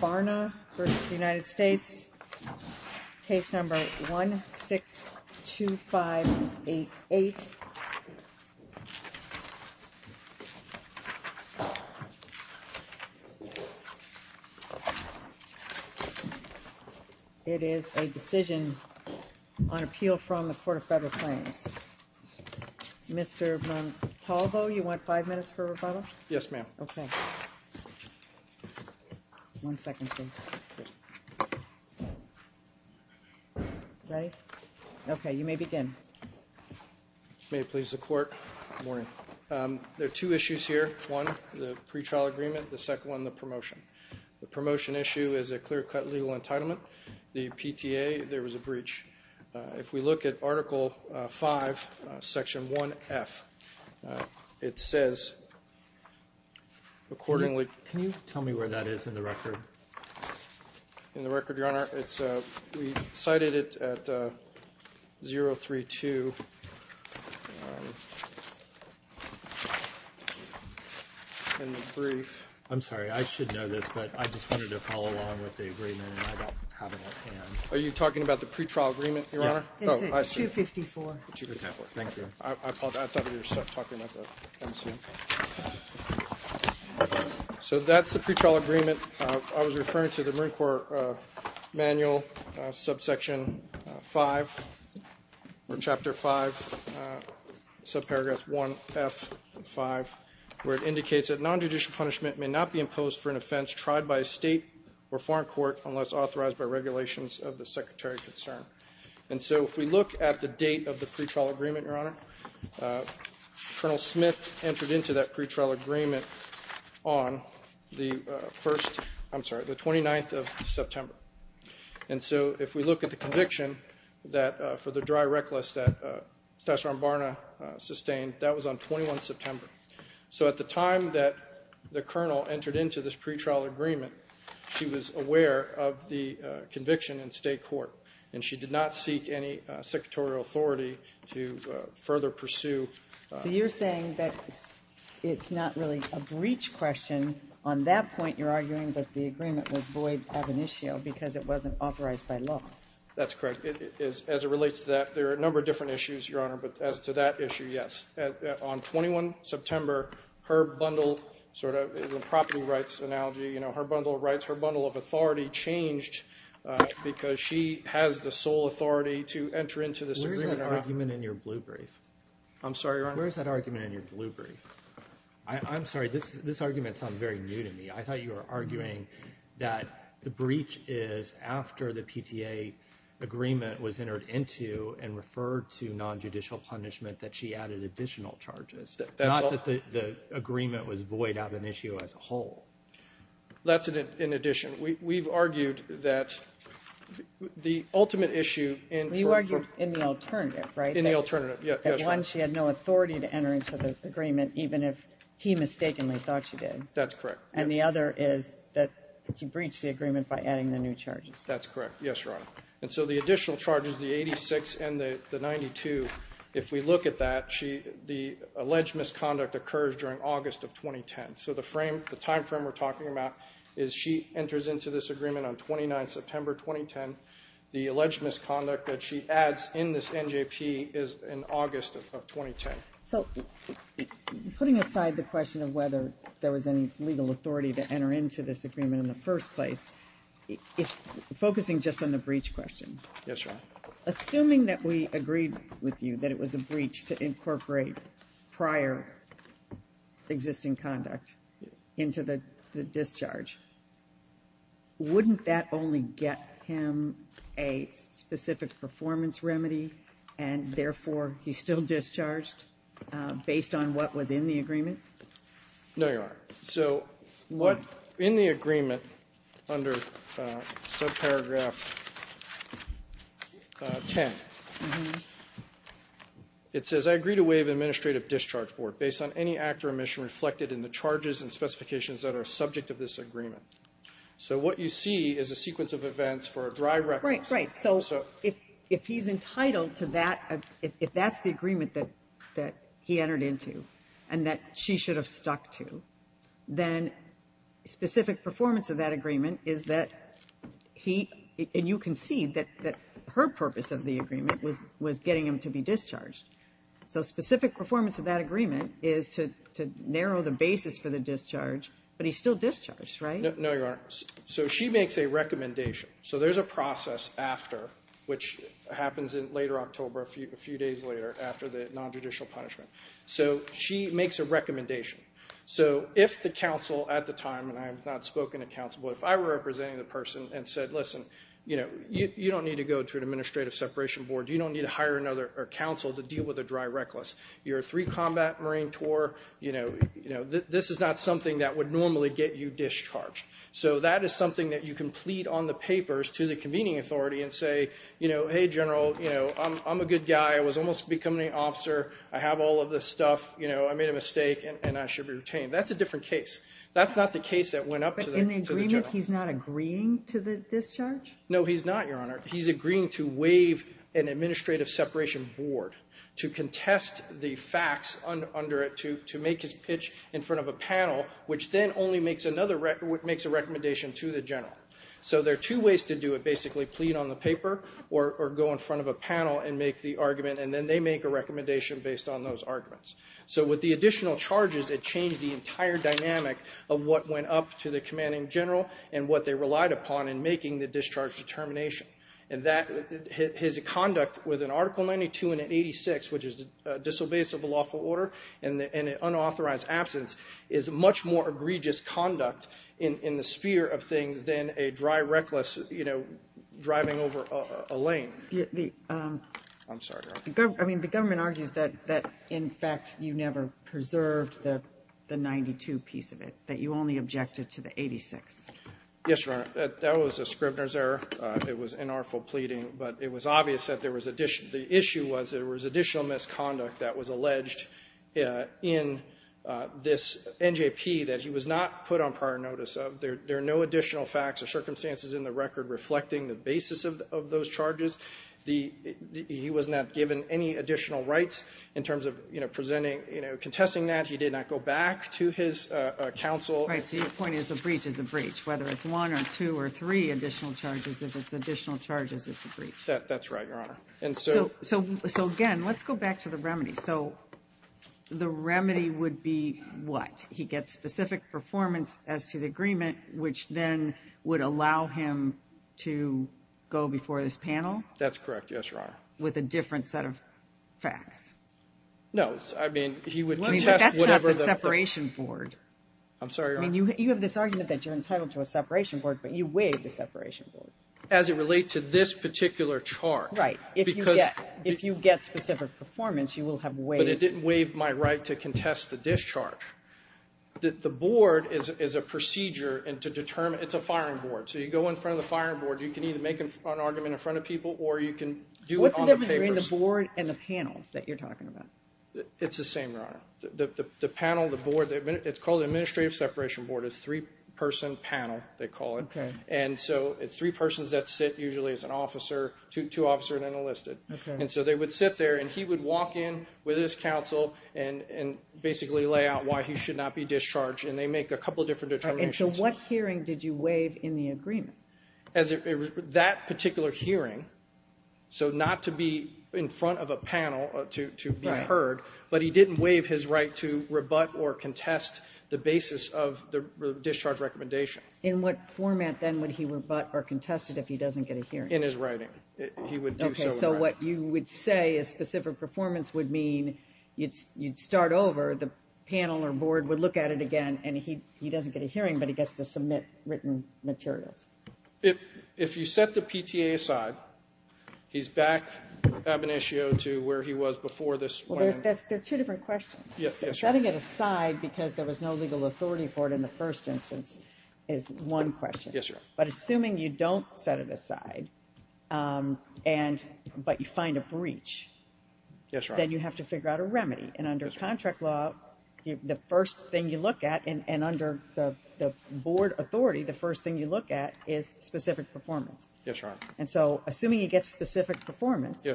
Barna v. United States Barna v. United States It is a decision on appeal from the Court of Federal Claims. Mr. Montalvo, you want five minutes for rebuttal? Yes, ma'am. Okay. One second, please. Ready? Okay, you may begin. May it please the Court. Good morning. There are two issues here. One, the pretrial agreement. The second one, the promotion. The promotion issue is a clear-cut legal entitlement. The PTA, there was a breach. If we look at Article V, Section 1F, it says accordingly Can you tell me where that is in the record? In the record, Your Honor, we cited it at 032 in the brief. I'm sorry. I should know this, but I just wanted to follow along with the agreement and I don't have it at hand. Are you talking about the pretrial agreement, Your Honor? Yes. It's at 254. Okay. Thank you. I thought you were talking about the MCM. So that's the pretrial agreement. I was referring to the Marine Corps Manual, Subsection 5, or Chapter 5, Subparagraph 1F5, where it indicates that nonjudicial punishment may not be imposed for an offense tried by a state or foreign court unless authorized by regulations of the Secretary of Concern. And so if we look at the date of the pretrial agreement, Your Honor, Colonel Smith entered into that pretrial agreement on the 29th of September. And so if we look at the conviction for the dry reckless that Staff Sergeant Barna sustained, that was on 21 September. So at the time that the colonel entered into this pretrial agreement, she was aware of the conviction in state court and she did not seek any secretarial authority to further pursue. So you're saying that it's not really a breach question. On that point, you're arguing that the agreement was void ab initio because it wasn't authorized by law. That's correct. As it relates to that, there are a number of different issues, Your Honor, but as to that issue, yes. On 21 September, her bundle sort of property rights analogy, you know, her bundle of rights, her bundle of authority changed because she has the sole authority to enter into this agreement or not. Where is that argument in your blue brief? I'm sorry, Your Honor? Where is that argument in your blue brief? I'm sorry, this argument sounds very new to me. I thought you were arguing that the breach is after the PTA agreement was entered into and referred to nonjudicial punishment that she added additional charges, not that the agreement was void ab initio as a whole. That's in addition. We've argued that the ultimate issue in the alternative, right? In the alternative, yes. One, she had no authority to enter into the agreement even if he mistakenly thought she did. That's correct. And the other is that she breached the agreement by adding the new charges. That's correct. Yes, Your Honor. And so the additional charges, the 86 and the 92, if we look at that, the alleged misconduct occurs during August of 2010. So the timeframe we're talking about is she enters into this agreement on 29 September 2010. The alleged misconduct that she adds in this NJP is in August of 2010. So putting aside the question of whether there was any legal authority to enter into this agreement in the first place, focusing just on the breach question. Yes, Your Honor. Assuming that we agreed with you that it was a breach to incorporate prior existing conduct into the discharge, wouldn't that only get him a specific performance remedy and therefore he's still discharged based on what was in the agreement? No, Your Honor. So in the agreement under subparagraph 10, it says, I agree to waive administrative discharge board based on any act or omission reflected in the charges and specifications that are subject of this agreement. So what you see is a sequence of events for a dry record. Right, right. So if he's entitled to that, if that's the agreement that he entered into and that she should have stuck to, then specific performance of that agreement is that he, and you can see that her purpose of the agreement was getting him to be discharged. So specific performance of that agreement is to narrow the basis for the discharge, but he's still discharged, right? No, Your Honor. So she makes a recommendation. So there's a process after, which happens in later October, a few days later after the nonjudicial punishment. So she makes a recommendation. So if the counsel at the time, and I have not spoken to counsel, but if I were representing the person and said, listen, you don't need to go to an administrative separation board, you don't need to hire another counsel to deal with a dry reckless, you're a three-combat Marine tour, this is not something that would normally get you discharged. So that is something that you can plead on the papers to the convening authority and say, hey, General, I'm a good guy. I was almost becoming an officer. I have all of this stuff. I made a mistake, and I should be retained. That's a different case. That's not the case that went up to the General. No, he's not, Your Honor. He's agreeing to waive an administrative separation board to contest the facts under it to make his pitch in front of a panel, which then only makes a recommendation to the General. So there are two ways to do it, basically plead on the paper or go in front of a panel and make the argument, and then they make a recommendation based on those arguments. So with the additional charges, it changed the entire dynamic of what went up to the commanding general and what they relied upon in making the discharge determination. His conduct with an Article 92 and an 86, which is disobeyance of a lawful order and an unauthorized absence, is much more egregious conduct in the sphere of things than a dry, reckless driving over a lane. I'm sorry, Your Honor. I mean, the government argues that, in fact, you never preserved the 92 piece of it, that you only objected to the 86. Yes, Your Honor. That was a Scribner's error. It was inartful pleading. But it was obvious that there was additional the issue was there was additional misconduct that was alleged in this NJP that he was not put on prior notice of. There are no additional facts or circumstances in the record reflecting the basis of those charges. The he was not given any additional rights in terms of, you know, presenting, you know, contesting that. He did not go back to his counsel. Right. So your point is a breach is a breach, whether it's one or two or three additional charges. If it's additional charges, it's a breach. That's right, Your Honor. So again, let's go back to the remedy. So the remedy would be what? He gets specific performance as to the agreement, which then would allow him to go before this panel? That's correct. Yes, Your Honor. With a different set of facts. No. I mean, he would contest whatever the separation board. I'm sorry, Your Honor. I mean, you have this argument that you're entitled to a separation board, but you waive the separation board. As it relates to this particular charge. Right. Because if you get specific performance, you will have waived. But it didn't waive my right to contest the discharge. The board is a procedure to determine. It's a firing board. So you go in front of the firing board. You can either make an argument in front of people, or you can do it on the papers. It's the same, Your Honor. The panel, the board, it's called the administrative separation board. It's a three-person panel, they call it. Okay. And so it's three persons that sit usually as an officer, two officer and enlisted. Okay. And so they would sit there, and he would walk in with his counsel and basically lay out why he should not be discharged, and they make a couple of different determinations. And so what hearing did you waive in the agreement? That particular hearing, so not to be in front of a panel to be heard, but he didn't waive his right to rebut or contest the basis of the discharge recommendation. In what format, then, would he rebut or contest it if he doesn't get a hearing? In his writing. He would do so in writing. Okay, so what you would say a specific performance would mean, you'd start over, the panel or board would look at it again, and he doesn't get a hearing, but he gets to submit written materials. If you set the PTA aside, he's back ab initio to where he was before this plan. There are two different questions. Setting it aside because there was no legal authority for it in the first instance is one question. Yes, Your Honor. But assuming you don't set it aside, but you find a breach, then you have to figure out a remedy. And under contract law, the first thing you look at, and under the board authority, the first thing you look at is specific performance. Yes, Your Honor. And so assuming he gets specific performance,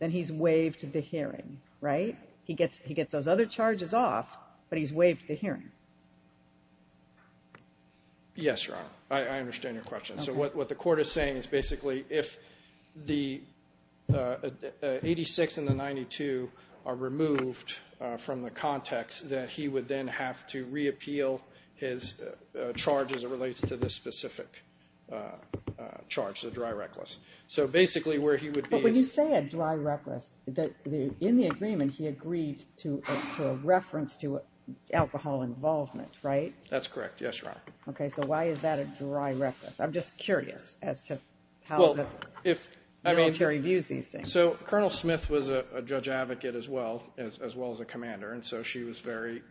then he's waived the hearing, right? He gets those other charges off, but he's waived the hearing. Yes, Your Honor. I understand your question. So what the court is saying is basically if the 86 and the 92 are removed from the context, that he would then have to reappeal his charge as it relates to this specific charge, the dry reckless. But when you say a dry reckless, in the agreement he agreed to a reference to alcohol involvement, right? That's correct. Yes, Your Honor. Okay, so why is that a dry reckless? I'm just curious as to how the military views these things. So Colonel Smith was a judge advocate as well as a commander, and so she was very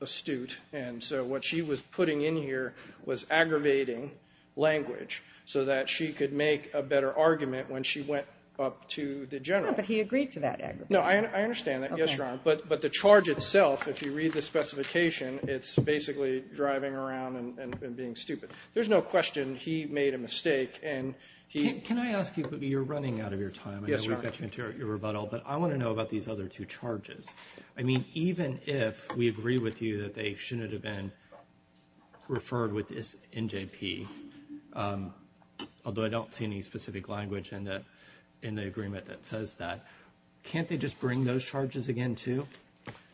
astute. And so what she was putting in here was aggravating language so that she could make a better argument when she went up to the general. Yeah, but he agreed to that aggravating. No, I understand that. Yes, Your Honor. But the charge itself, if you read the specification, it's basically driving around and being stupid. There's no question he made a mistake. Can I ask you, but you're running out of your time. Yes, Your Honor. I know we've got your rebuttal, but I want to know about these other two charges. I mean, even if we agree with you that they shouldn't have been referred with this NJP, although I don't see any specific language in the agreement that says that, can't they just bring those charges again too?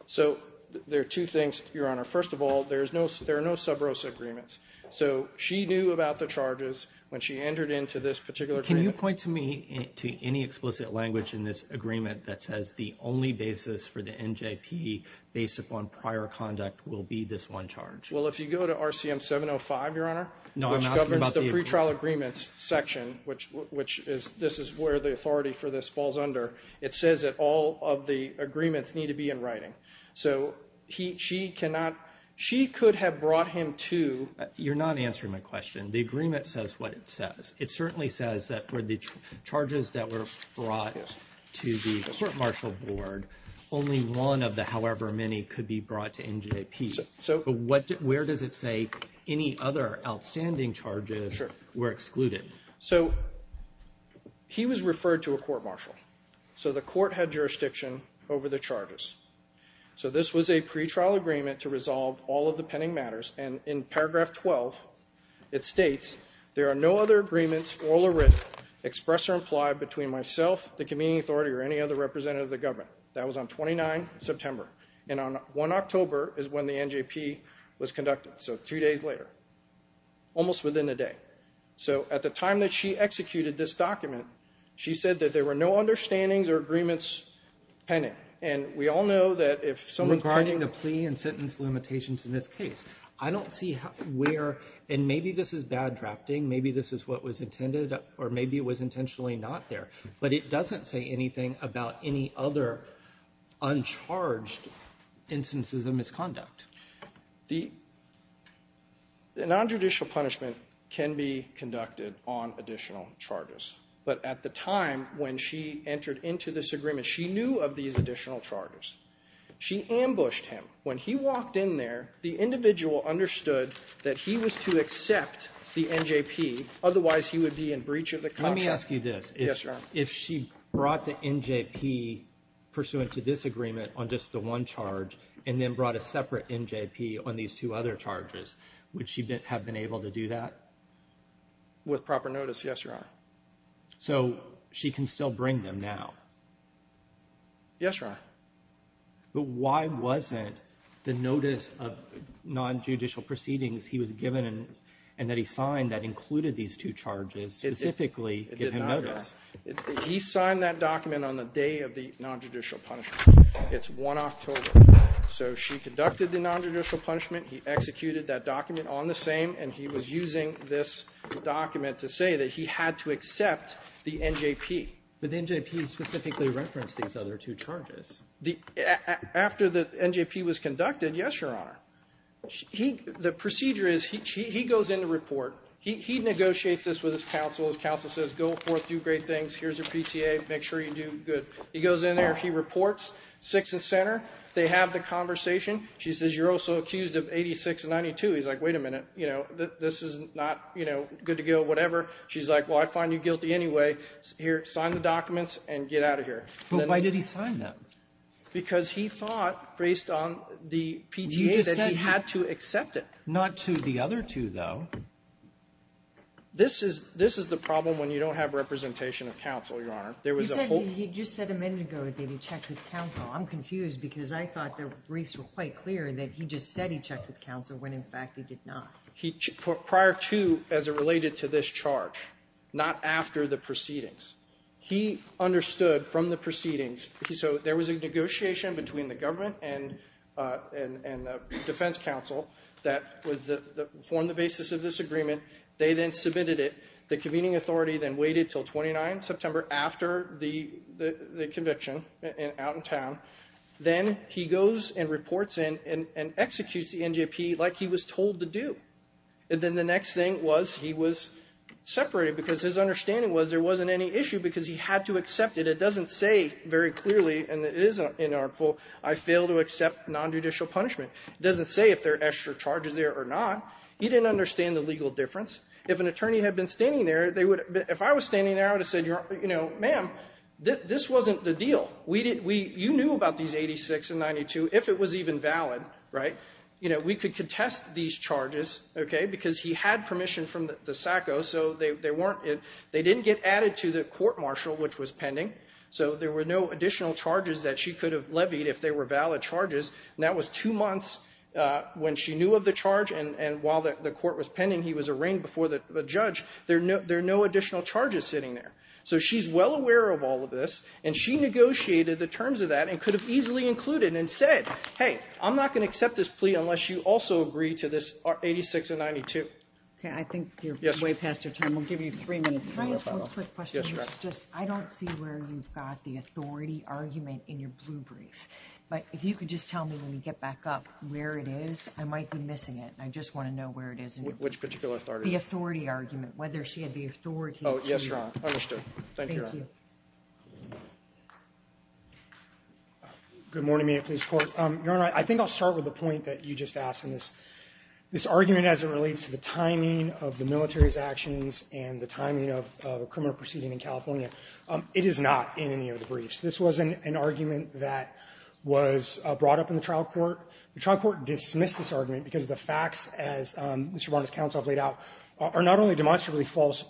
So there are two things, Your Honor. First of all, there are no sub rosa agreements. So she knew about the charges when she entered into this particular agreement. Can you point to me to any explicit language in this agreement that says the only basis for the NJP based upon prior conduct will be this one charge? Well, if you go to RCM 705, Your Honor, which governs the pretrial agreements section, which is this is where the authority for this falls under, it says that all of the agreements need to be in writing. So she could have brought him to. You're not answering my question. The agreement says what it says. It certainly says that for the charges that were brought to the court martial board, only one of the however many could be brought to NJP. But where does it say any other outstanding charges were excluded? So he was referred to a court martial. So the court had jurisdiction over the charges. So this was a pretrial agreement to resolve all of the pending matters. And in paragraph 12, it states there are no other agreements, oral or written, expressed or implied between myself, the community authority, or any other representative of the government. That was on 29 September. And on 1 October is when the NJP was conducted. So two days later. Almost within a day. So at the time that she executed this document, she said that there were no understandings or agreements pending. And we all know that if someone's – Regarding the plea and sentence limitations in this case, I don't see where – and maybe this is bad drafting. Maybe this is what was intended, or maybe it was intentionally not there. But it doesn't say anything about any other uncharged instances of misconduct. The nonjudicial punishment can be conducted on additional charges. But at the time when she entered into this agreement, she knew of these additional charges. She ambushed him. When he walked in there, the individual understood that he was to accept the NJP. Otherwise, he would be in breach of the contract. Let me ask you this. Yes, Your Honor. If she brought the NJP pursuant to this agreement on just the one charge and then brought a separate NJP on these two other charges, would she have been able to do that? With proper notice, yes, Your Honor. So she can still bring them now? Yes, Your Honor. But why wasn't the notice of nonjudicial proceedings he was given and that he signed that included these two charges specifically give him notice? It did not, Your Honor. He signed that document on the day of the nonjudicial punishment. It's 1 October. So she conducted the nonjudicial punishment. He executed that document on the same. And he was using this document to say that he had to accept the NJP. But the NJP specifically referenced these other two charges. After the NJP was conducted, yes, Your Honor. The procedure is he goes in to report. He negotiates this with his counsel. His counsel says, go forth, do great things. Here's your PTA. Make sure you do good. He goes in there. He reports. Sixth and center. They have the conversation. She says, you're also accused of 86 and 92. He's like, wait a minute. You know, this is not, you know, good to go, whatever. She's like, well, I find you guilty anyway. Here, sign the documents and get out of here. But why did he sign them? Because he thought, based on the PTA, that he had to accept it. Not to the other two, though. This is the problem when you don't have representation of counsel, Your Honor. There was a whole ---- You said a minute ago that he checked with counsel. I'm confused because I thought the briefs were quite clear that he just said he checked with counsel when, in fact, he did not. Prior to, as it related to this charge, not after the proceedings. He understood from the proceedings. So there was a negotiation between the government and defense counsel that formed the basis of this agreement. They then submitted it. The convening authority then waited until 29 September after the conviction out in town. Then he goes and reports in and executes the NJP like he was told to do. And then the next thing was he was separated because his understanding was there wasn't any issue because he had to accept it. But it doesn't say very clearly, and it is in our full, I fail to accept nonjudicial punishment. It doesn't say if there are extra charges there or not. He didn't understand the legal difference. If an attorney had been standing there, they would have ---- if I was standing there, I would have said, you know, ma'am, this wasn't the deal. We didn't ---- you knew about these 86 and 92, if it was even valid, right? You know, we could contest these charges, okay, because he had permission from the SACO. So they weren't ---- they didn't get added to the court martial, which was pending. So there were no additional charges that she could have levied if they were valid charges. And that was two months when she knew of the charge, and while the court was pending, he was arraigned before the judge. There are no additional charges sitting there. So she's well aware of all of this, and she negotiated the terms of that and could have easily included and said, hey, I'm not going to accept this plea unless you also agree to this 86 and 92. Okay, I think you're way past your time. We'll give you three minutes. Can I ask one quick question? Yes, Your Honor. I don't see where you've got the authority argument in your blue brief. But if you could just tell me when we get back up where it is, I might be missing it. I just want to know where it is. Which particular authority? The authority argument, whether she had the authority. Oh, yes, Your Honor. Understood. Thank you, Your Honor. Thank you. Good morning, Minneapolis Court. Your Honor, I think I'll start with the point that you just asked. And this argument, as it relates to the timing of the military's actions and the timing of a criminal proceeding in California, it is not in any of the briefs. This was an argument that was brought up in the trial court. The trial court dismissed this argument because the facts, as Mr. Barnett's counsel has laid out, are not only demonstrably false,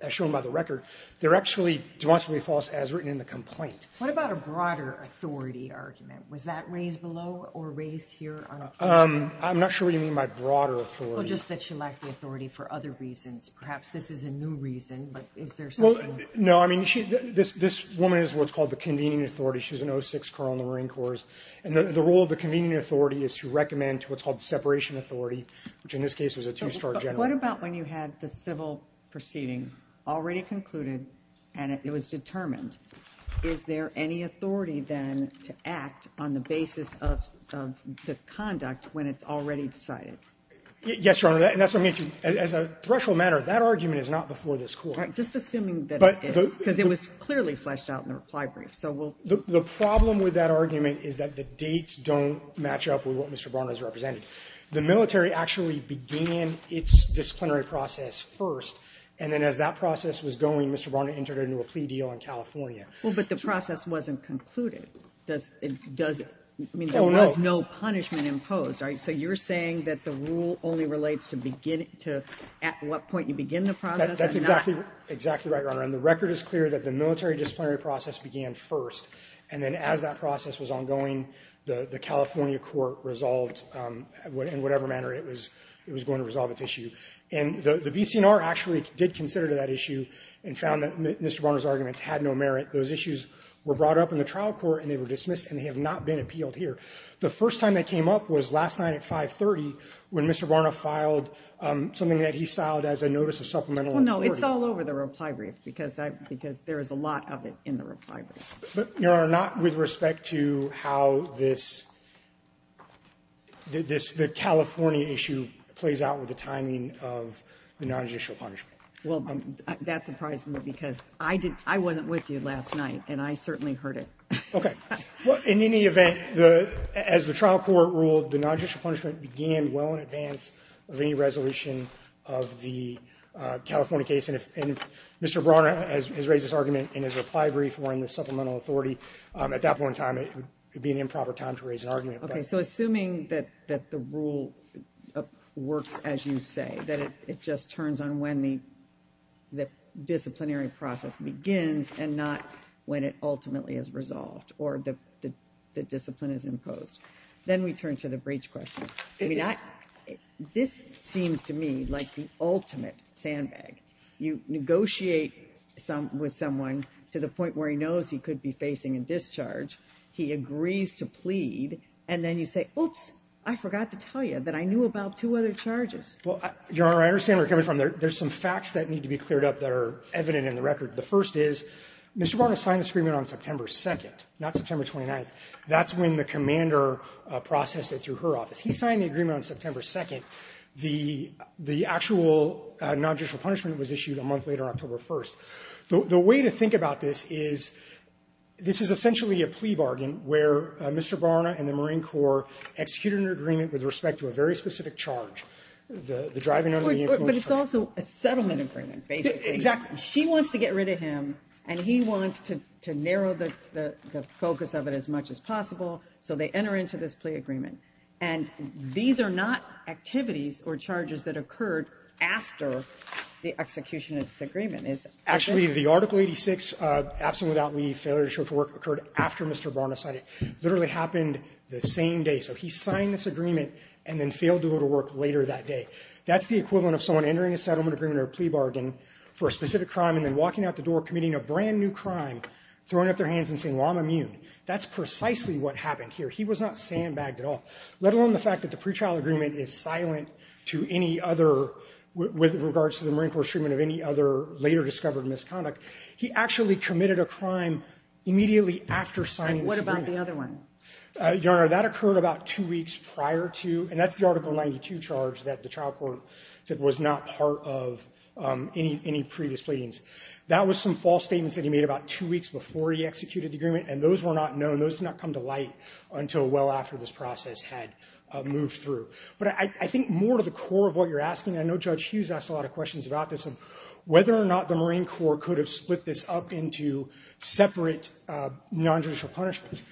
as shown by the record, they're actually demonstrably false as written in the complaint. What about a broader authority argument? Was that raised below or raised here on appeal? I'm not sure what you mean by broader authority. Well, just that she lacked the authority for other reasons. Perhaps this is a new reason, but is there something more? Well, no. I mean, this woman is what's called the convening authority. She was an 06 corps in the Marine Corps. And the role of the convening authority is to recommend what's called separation authority, which in this case was a two-star general. But what about when you had the civil proceeding already concluded and it was decided? Yes, Your Honor. As a threshold matter, that argument is not before this Court. Just assuming that it is, because it was clearly fleshed out in the reply brief. The problem with that argument is that the dates don't match up with what Mr. Barnett has represented. The military actually began its disciplinary process first, and then as that process was going, Mr. Barnett entered into a plea deal in California. Well, but the process wasn't concluded. I mean, there was no punishment imposed. So you're saying that the rule only relates to at what point you begin the process and not? That's exactly right, Your Honor. And the record is clear that the military disciplinary process began first. And then as that process was ongoing, the California court resolved in whatever manner it was going to resolve its issue. And the BC&R actually did consider that issue and found that Mr. Barnett's arguments had no merit. Those issues were brought up in the trial court, and they were dismissed, and they have not been appealed here. The first time that came up was last night at 530, when Mr. Barnett filed something that he styled as a notice of supplemental authority. Well, no, it's all over the reply brief, because there is a lot of it in the reply brief. But, Your Honor, not with respect to how this California issue plays out with the timing of the nonjudicial punishment. Well, that surprised me, because I wasn't with you last night, and I certainly heard it. Okay. Well, in any event, as the trial court ruled, the nonjudicial punishment began well in advance of any resolution of the California case. And if Mr. Barnett has raised this argument in his reply brief or in the supplemental authority, at that point in time, it would be an improper time to raise an argument. Okay. So, assuming that the rule works as you say, that it just turns on when the disciplinary process begins and not when it ultimately is resolved or the discipline is imposed, then we turn to the breach question. I mean, this seems to me like the ultimate sandbag. You negotiate with someone to the point where he knows he could be facing a discharge, he agrees to plead, and then you say, oops, I forgot to tell you that I knew about two other charges. Well, Your Honor, I understand where you're coming from. There's some facts that need to be cleared up that are evident in the record. The first is, Mr. Barnett signed this agreement on September 2nd, not September 29th. That's when the commander processed it through her office. He signed the agreement on September 2nd. The actual nonjudicial punishment was issued a month later, October 1st. The way to think about this is, this is essentially a plea bargain where Mr. Barnett and the Marine Corps executed an agreement with respect to a very specific charge, the driving under the influence charge. But it's also a settlement agreement, basically. Exactly. She wants to get rid of him, and he wants to narrow the focus of it as much as possible, so they enter into this plea agreement. And these are not activities or charges that occurred after the execution of this agreement, is it? Actually, the Article 86, absent without leave, failure to show for work, occurred after Mr. Barnett signed it. It literally happened the same day. So he signed this agreement and then failed to go to work later that day. That's the equivalent of someone entering a settlement agreement or a plea bargain for a specific crime and then walking out the door committing a brand new crime, throwing up their hands and saying, well, I'm immune. That's precisely what happened here. He was not sandbagged at all, let alone the fact that the pretrial agreement is silent to any other, with regards to the Marine Corps treatment of any other later discovered misconduct. He actually committed a crime immediately after signing this agreement. And what about the other one? Your Honor, that occurred about two weeks prior to, and that's the Article 92 charge that the trial court said was not part of any previous pleadings. That was some false statements that he made about two weeks before he executed the agreement, and those were not known. Those did not come to light until well after this process had moved through. But I think more to the core of what you're asking, and I know Judge Hughes asked a lot of questions about this, whether or not the Marine Corps could have split this up into separate nonjudicial punishments.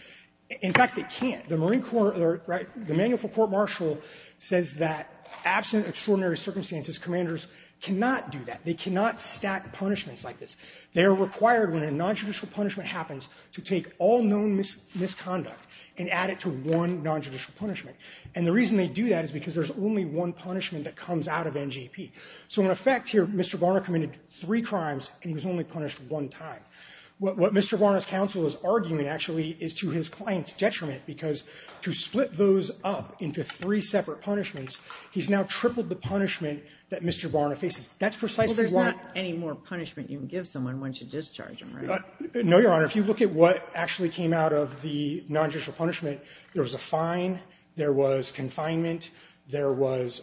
In fact, they can't. The Marine Corps or the Manual for Court Martial says that absent extraordinary circumstances, commanders cannot do that. They cannot stack punishments like this. They are required when a nonjudicial punishment happens to take all known misconduct and add it to one nonjudicial punishment. And the reason they do that is because there's only one punishment that comes out of NJP. So in effect here, Mr. Barna committed three crimes and he was only punished one time. What Mr. Barna's counsel is arguing, actually, is to his client's detriment because to split those up into three separate punishments, he's now tripled the punishment that Mr. Barna faces. That's precisely why. Well, there's not any more punishment you can give someone once you discharge them, right? No, Your Honor. If you look at what actually came out of the nonjudicial punishment, there was a fine, there was confinement, there was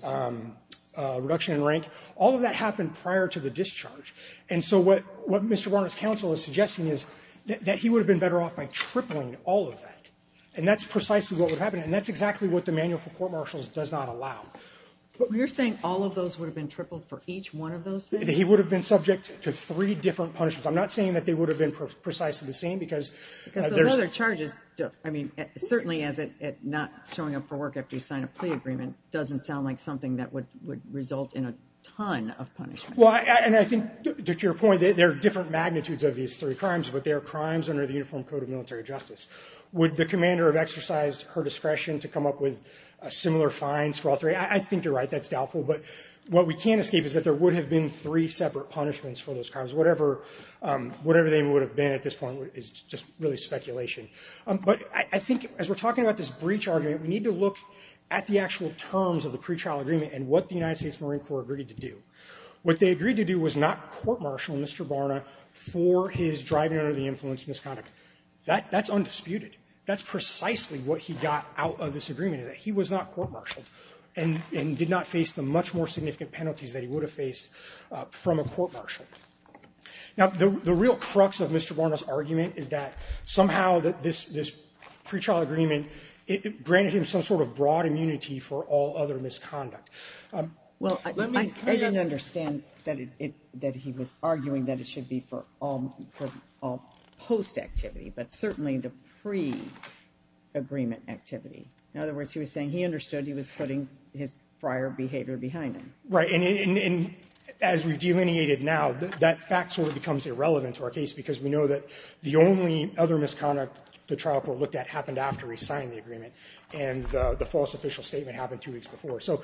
reduction in rank. All of that happened prior to the discharge. And so what Mr. Barna's counsel is suggesting is that he would have been better off by tripling all of that. And that's precisely what would happen. And that's exactly what the Manual for Court Martial does not allow. You're saying all of those would have been tripled for each one of those things? He would have been subject to three different punishments. I'm not saying that they would have been precisely the same because there's other charges. I mean, certainly not showing up for work after you sign a plea agreement doesn't sound like something that would result in a ton of punishment. Well, and I think to your point, there are different magnitudes of these three crimes, but they are crimes under the Uniform Code of Military Justice. Would the commander have exercised her discretion to come up with similar fines for all three? I think you're right. That's doubtful. But what we can't escape is that there would have been three separate punishments for those crimes. Whatever they would have been at this point is just really speculation. But I think as we're talking about this breach argument, we need to look at the actual terms of the pretrial agreement and what the United States Marine Corps agreed to do. What they agreed to do was not court-martial Mr. Barna for his driving under the influence misconduct. That's undisputed. That's precisely what he got out of this agreement is that he was not court-martialed and did not face the much more significant penalties that he would have faced from a court-martial. Now, the real crux of Mr. Barna's argument is that somehow this pretrial agreement, it granted him some sort of broad immunity for all other misconduct. Let me ask you. Well, I don't understand that he was arguing that it should be for all post-activity, but certainly the pre-agreement activity. In other words, he was saying he understood he was putting his prior behavior behind him. Right. And as we've delineated now, that fact sort of becomes irrelevant to our case because we know that the only other misconduct the trial court looked at happened after he signed the agreement, and the false official statement happened two weeks before. So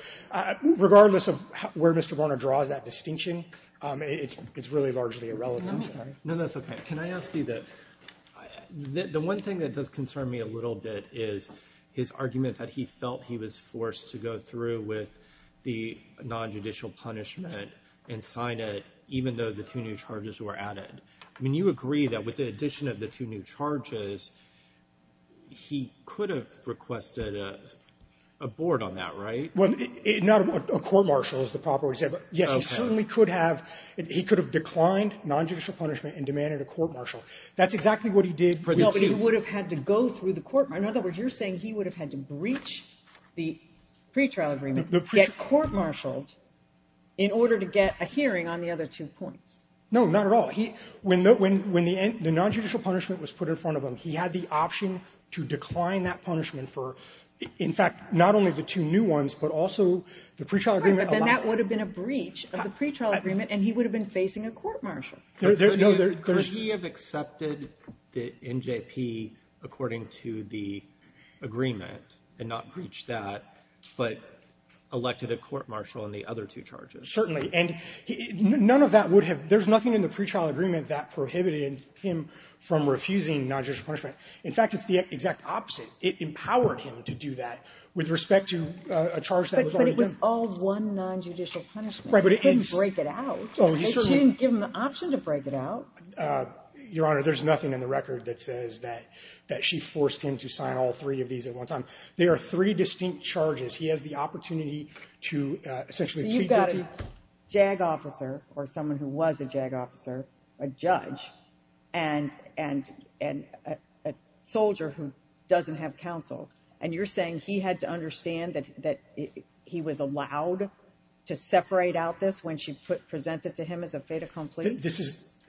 regardless of where Mr. Barna draws that distinction, it's really largely irrelevant. I'm sorry. No, that's okay. Can I ask you that the one thing that does concern me a little bit is his and sign it even though the two new charges were added. I mean, you agree that with the addition of the two new charges, he could have requested a board on that, right? Well, not a court-martial is the proper way to say it, but yes, he certainly could have declined nonjudicial punishment and demanded a court-martial. That's exactly what he did for the two. No, but he would have had to go through the court-martial. In other words, you're saying he would have had to breach the pretrial agreement, get court-martialed in order to get a hearing on the other two points. No, not at all. When the nonjudicial punishment was put in front of him, he had the option to decline that punishment for, in fact, not only the two new ones, but also the pretrial agreement. Right, but then that would have been a breach of the pretrial agreement, and he would have been facing a court-martial. Could he have accepted the NJP according to the agreement and not breached that, but elected a court-martial in the other two charges? Certainly, and none of that would have – there's nothing in the pretrial agreement that prohibited him from refusing nonjudicial punishment. In fact, it's the exact opposite. It empowered him to do that with respect to a charge that was already done. But it was all one nonjudicial punishment. Right, but it's – He couldn't break it out. Oh, he certainly – She didn't give him the option to break it out. Your Honor, there's nothing in the record that says that she forced him to sign all three of these at one time. There are three distinct charges. He has the opportunity to essentially plead guilty. So you've got a JAG officer, or someone who was a JAG officer, a judge, and a soldier who doesn't have counsel, and you're saying he had to understand that he was allowed to separate out this when she presented it to him as a fait accompli?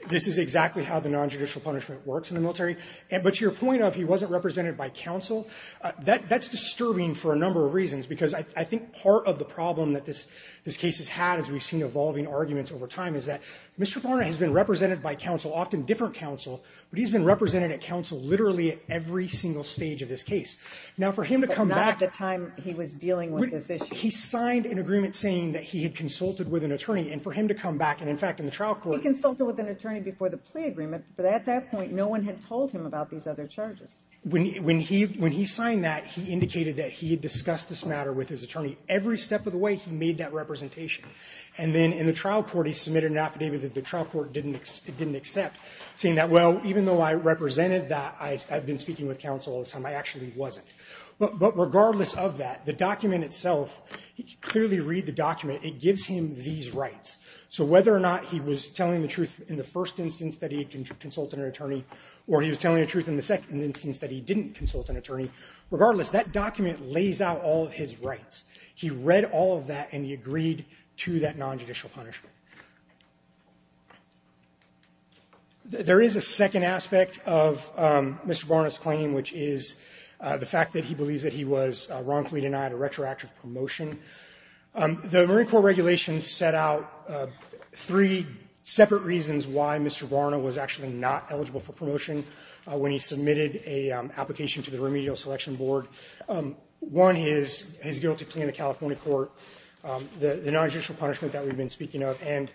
This is exactly how the nonjudicial punishment works in the military. But to your point of he wasn't represented by counsel, that's disturbing for a number of reasons because I think part of the problem that this case has had as we've seen evolving arguments over time is that Mr. Barnett has been represented by counsel, often different counsel, but he's been represented at counsel literally at every single stage of this case. Now for him to come back – But not at the time he was dealing with this issue. He signed an agreement saying that he had consulted with an attorney, and for him to come back, and in fact in the trial court – He consulted with an attorney before the plea agreement, but at that point, no one had told him about these other charges. When he signed that, he indicated that he had discussed this matter with his attorney. Every step of the way, he made that representation. And then in the trial court, he submitted an affidavit that the trial court didn't accept, saying that, well, even though I represented that, I've been speaking with counsel all this time, I actually wasn't. But regardless of that, the document itself, if you clearly read the document, it gives him these rights. So whether or not he was telling the truth in the first instance that he had consulted an attorney, or he was telling the truth in the second instance that he didn't consult an attorney, regardless, that document lays out all of his rights. He read all of that, and he agreed to that nonjudicial punishment. There is a second aspect of Mr. Varna's claim, which is the fact that he believes that he was wrongfully denied a retroactive promotion. The Marine Corps regulations set out three separate reasons why Mr. Varna was actually not eligible for promotion when he submitted an application to the Remedial Selection Board. One is his guilty plea in the California court, the nonjudicial punishment that we've been speaking of, and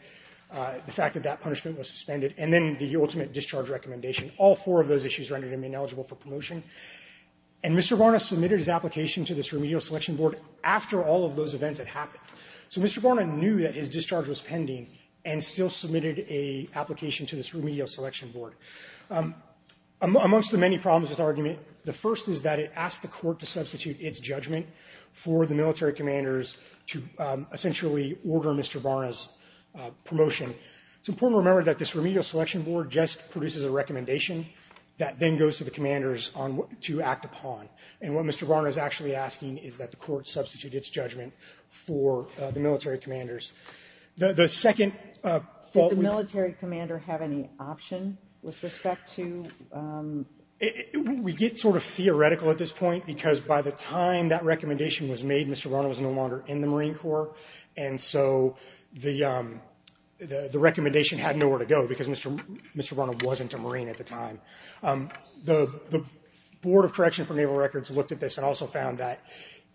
the fact that that punishment was suspended, and then the ultimate discharge recommendation. All four of those issues rendered him ineligible for promotion. And Mr. Varna submitted his application to this Remedial Selection Board after all of those events had happened. So Mr. Varna knew that his discharge was pending and still submitted an application to this Remedial Selection Board. Amongst the many problems with the argument, the first is that it asked the court to substitute its judgment for the military commanders to essentially order Mr. Varna's promotion. It's important to remember that this Remedial Selection Board just produces a recommendation that then goes to the commanders to act upon. And what Mr. Varna is actually asking is that the court substitute its judgment for the military commanders. The second fault we... Did the military commander have any option with respect to... We get sort of theoretical at this point because by the time that recommendation was made, Mr. Varna was no longer in the Marine Corps, and so the recommendation had nowhere to go because Mr. Varna wasn't a Marine at the time. The Board of Correction for Naval Records looked at this and also found that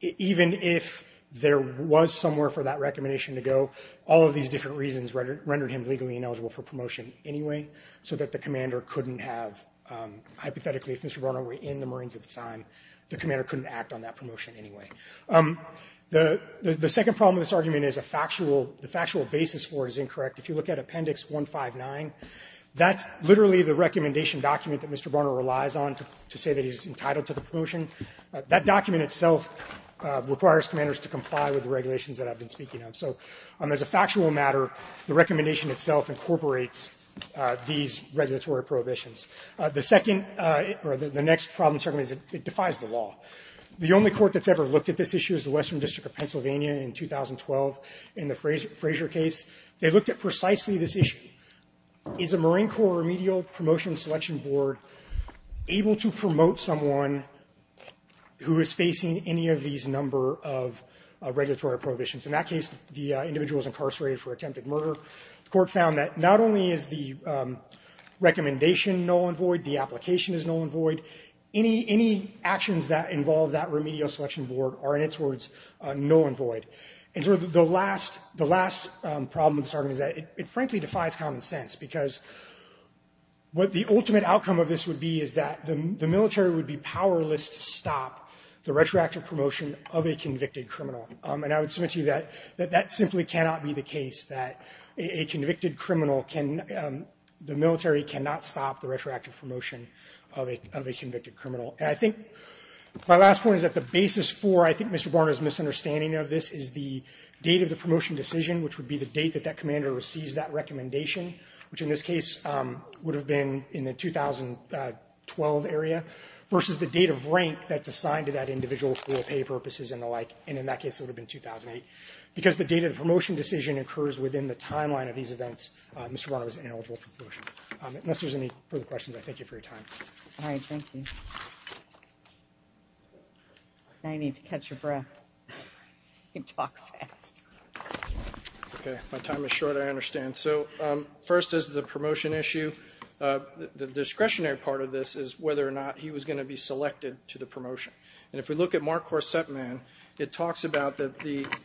even if there was somewhere for that recommendation to go, all of these different reasons rendered him legally ineligible for promotion anyway so that the commander couldn't have... Hypothetically, if Mr. Varna were in the Marines at the time, the commander couldn't act on that promotion anyway. The second problem with this argument is the factual basis for it is incorrect. If you look at Appendix 159, that's literally the recommendation document that Mr. Varna relies on to say that he's entitled to the promotion. That document itself requires commanders to comply with the regulations that I've been speaking of. So as a factual matter, the recommendation itself incorporates these regulatory prohibitions. The second... or the next problem certainly is it defies the law. The only court that's ever looked at this issue is the Western District of Pennsylvania in 2012 in the Fraser case. They looked at precisely this issue. Is a Marine Corps remedial promotion selection board able to promote someone who is facing any of these number of regulatory prohibitions? In that case, the individual was incarcerated for attempted murder. The court found that not only is the recommendation null and void, the application is null and void, any actions that involve that remedial selection board are, in its words, null and void. And sort of the last problem with this argument is that it frankly defies common sense because what the ultimate outcome of this would be is that the military would be powerless to stop the retroactive promotion of a convicted criminal. And I would submit to you that that simply cannot be the case, that a convicted criminal can... the military cannot stop the retroactive promotion of a convicted criminal. And I think my last point is that the basis for, I think, is the date of the promotion decision, which would be the date that that commander receives that recommendation, which in this case would have been in the 2012 area, versus the date of rank that's assigned to that individual for pay purposes and the like. And in that case, it would have been 2008. Because the date of the promotion decision occurs within the timeline of these events, Mr. Barnum is ineligible for promotion. Unless there's any further questions, I thank you for your time. All right, thank you. Now you need to catch your breath. You talk fast. Okay, my time is short, I understand. So first is the promotion issue. The discretionary part of this is whether or not he was going to be selected to the promotion. And if we look at Mark Horsetman, it talks about that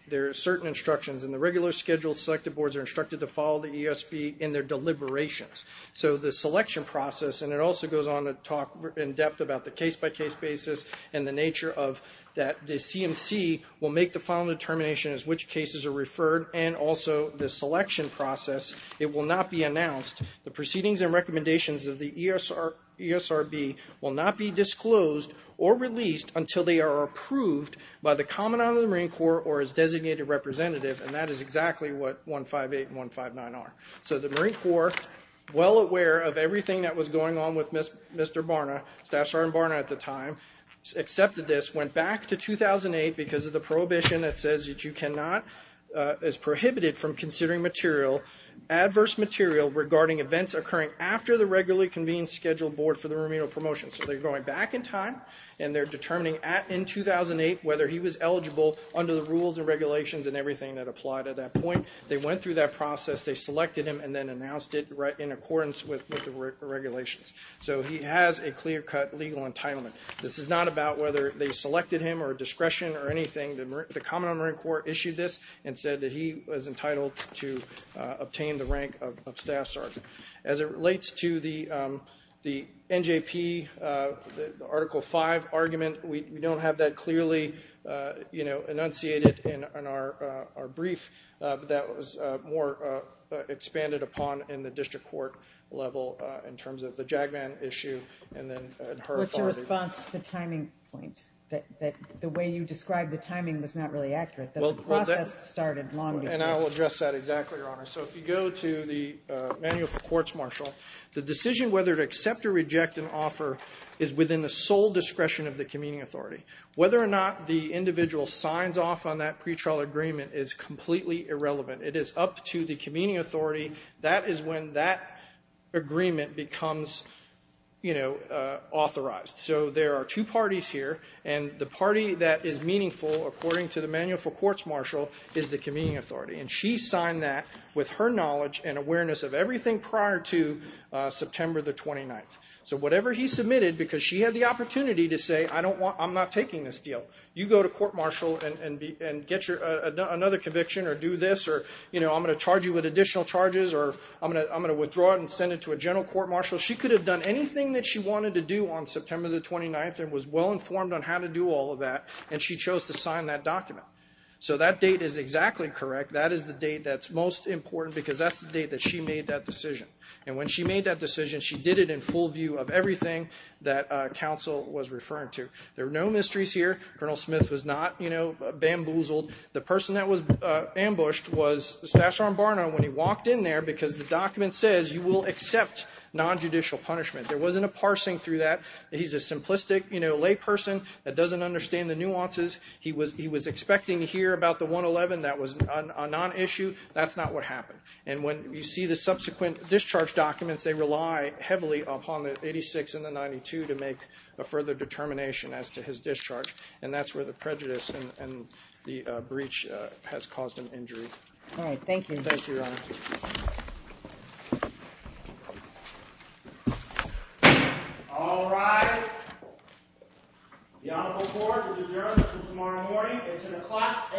there are certain instructions in the regular schedule, selected boards are instructed to follow the ESB in their deliberations. So the selection process, and it also goes on to talk in depth about the case-by-case basis and the nature of that. The CMC will make the final determination as to which cases are referred and also the selection process. It will not be announced. The proceedings and recommendations of the ESRB will not be disclosed or released until they are approved by the Commandant of the Marine Corps or its designated representative. And that is exactly what 158 and 159 are. So the Marine Corps, well aware of everything that was going on with Mr. Barna, Staff Sergeant Barna at the time, accepted this, went back to 2008 because of the prohibition that says that you cannot, is prohibited from considering material, adverse material regarding events occurring after the regularly convened scheduled board for the remedial promotion. So they're going back in time and they're determining in 2008 whether he was eligible under the rules and regulations and everything that applied at that point. They went through that process, they selected him, and then announced it in accordance with the regulations. So he has a clear-cut legal entitlement. This is not about whether they selected him or discretion or anything. The Commandant of the Marine Corps issued this and said that he was entitled to obtain the rank of Staff Sergeant. As it relates to the NJP, the Article 5 argument, we don't have that clearly enunciated in our brief, but that was more expanded upon in the district court level in terms of the JAGMAN issue and then her authority. What's your response to the timing point? The way you described the timing was not really accurate. The process started long before. And I will address that exactly, Your Honor. So if you go to the Manual for Courts, Marshal, the decision whether to accept or reject an offer is within the sole discretion of the convening authority. Whether or not the individual signs off on that pretrial agreement is completely irrelevant. It is up to the convening authority. That is when that agreement becomes authorized. So there are two parties here, and the party that is meaningful, according to the Manual for Courts, Marshal, is the convening authority. And she signed that with her knowledge and awareness of everything prior to September the 29th. So whatever he submitted, because she had the opportunity to say, I'm not taking this deal. You go to court, Marshal, and get another conviction, or do this, or I'm going to charge you with additional charges, or I'm going to withdraw it and send it to a general court, Marshal. She could have done anything that she wanted to do on September the 29th and was well informed on how to do all of that, and she chose to sign that document. So that date is exactly correct. That is the date that's most important, because that's the date that she made that decision. And when she made that decision, she did it in full view of everything that counsel was referring to. There are no mysteries here. Colonel Smith was not bamboozled. The person that was ambushed was Staff Sergeant Barnum when he walked in there because the document says you will accept nonjudicial punishment. There wasn't a parsing through that. He's a simplistic layperson that doesn't understand the nuances. He was expecting to hear about the 111 that was a nonissue. That's not what happened. And when you see the subsequent discharge documents, they rely heavily upon the 86 and the 92 to make a further determination as to his discharge, and that's where the prejudice and the breach has caused an injury. All right, thank you. Thank you, Your Honor. All rise. The Honorable Court will adjourn until tomorrow morning. It's 10 o'clock a.m.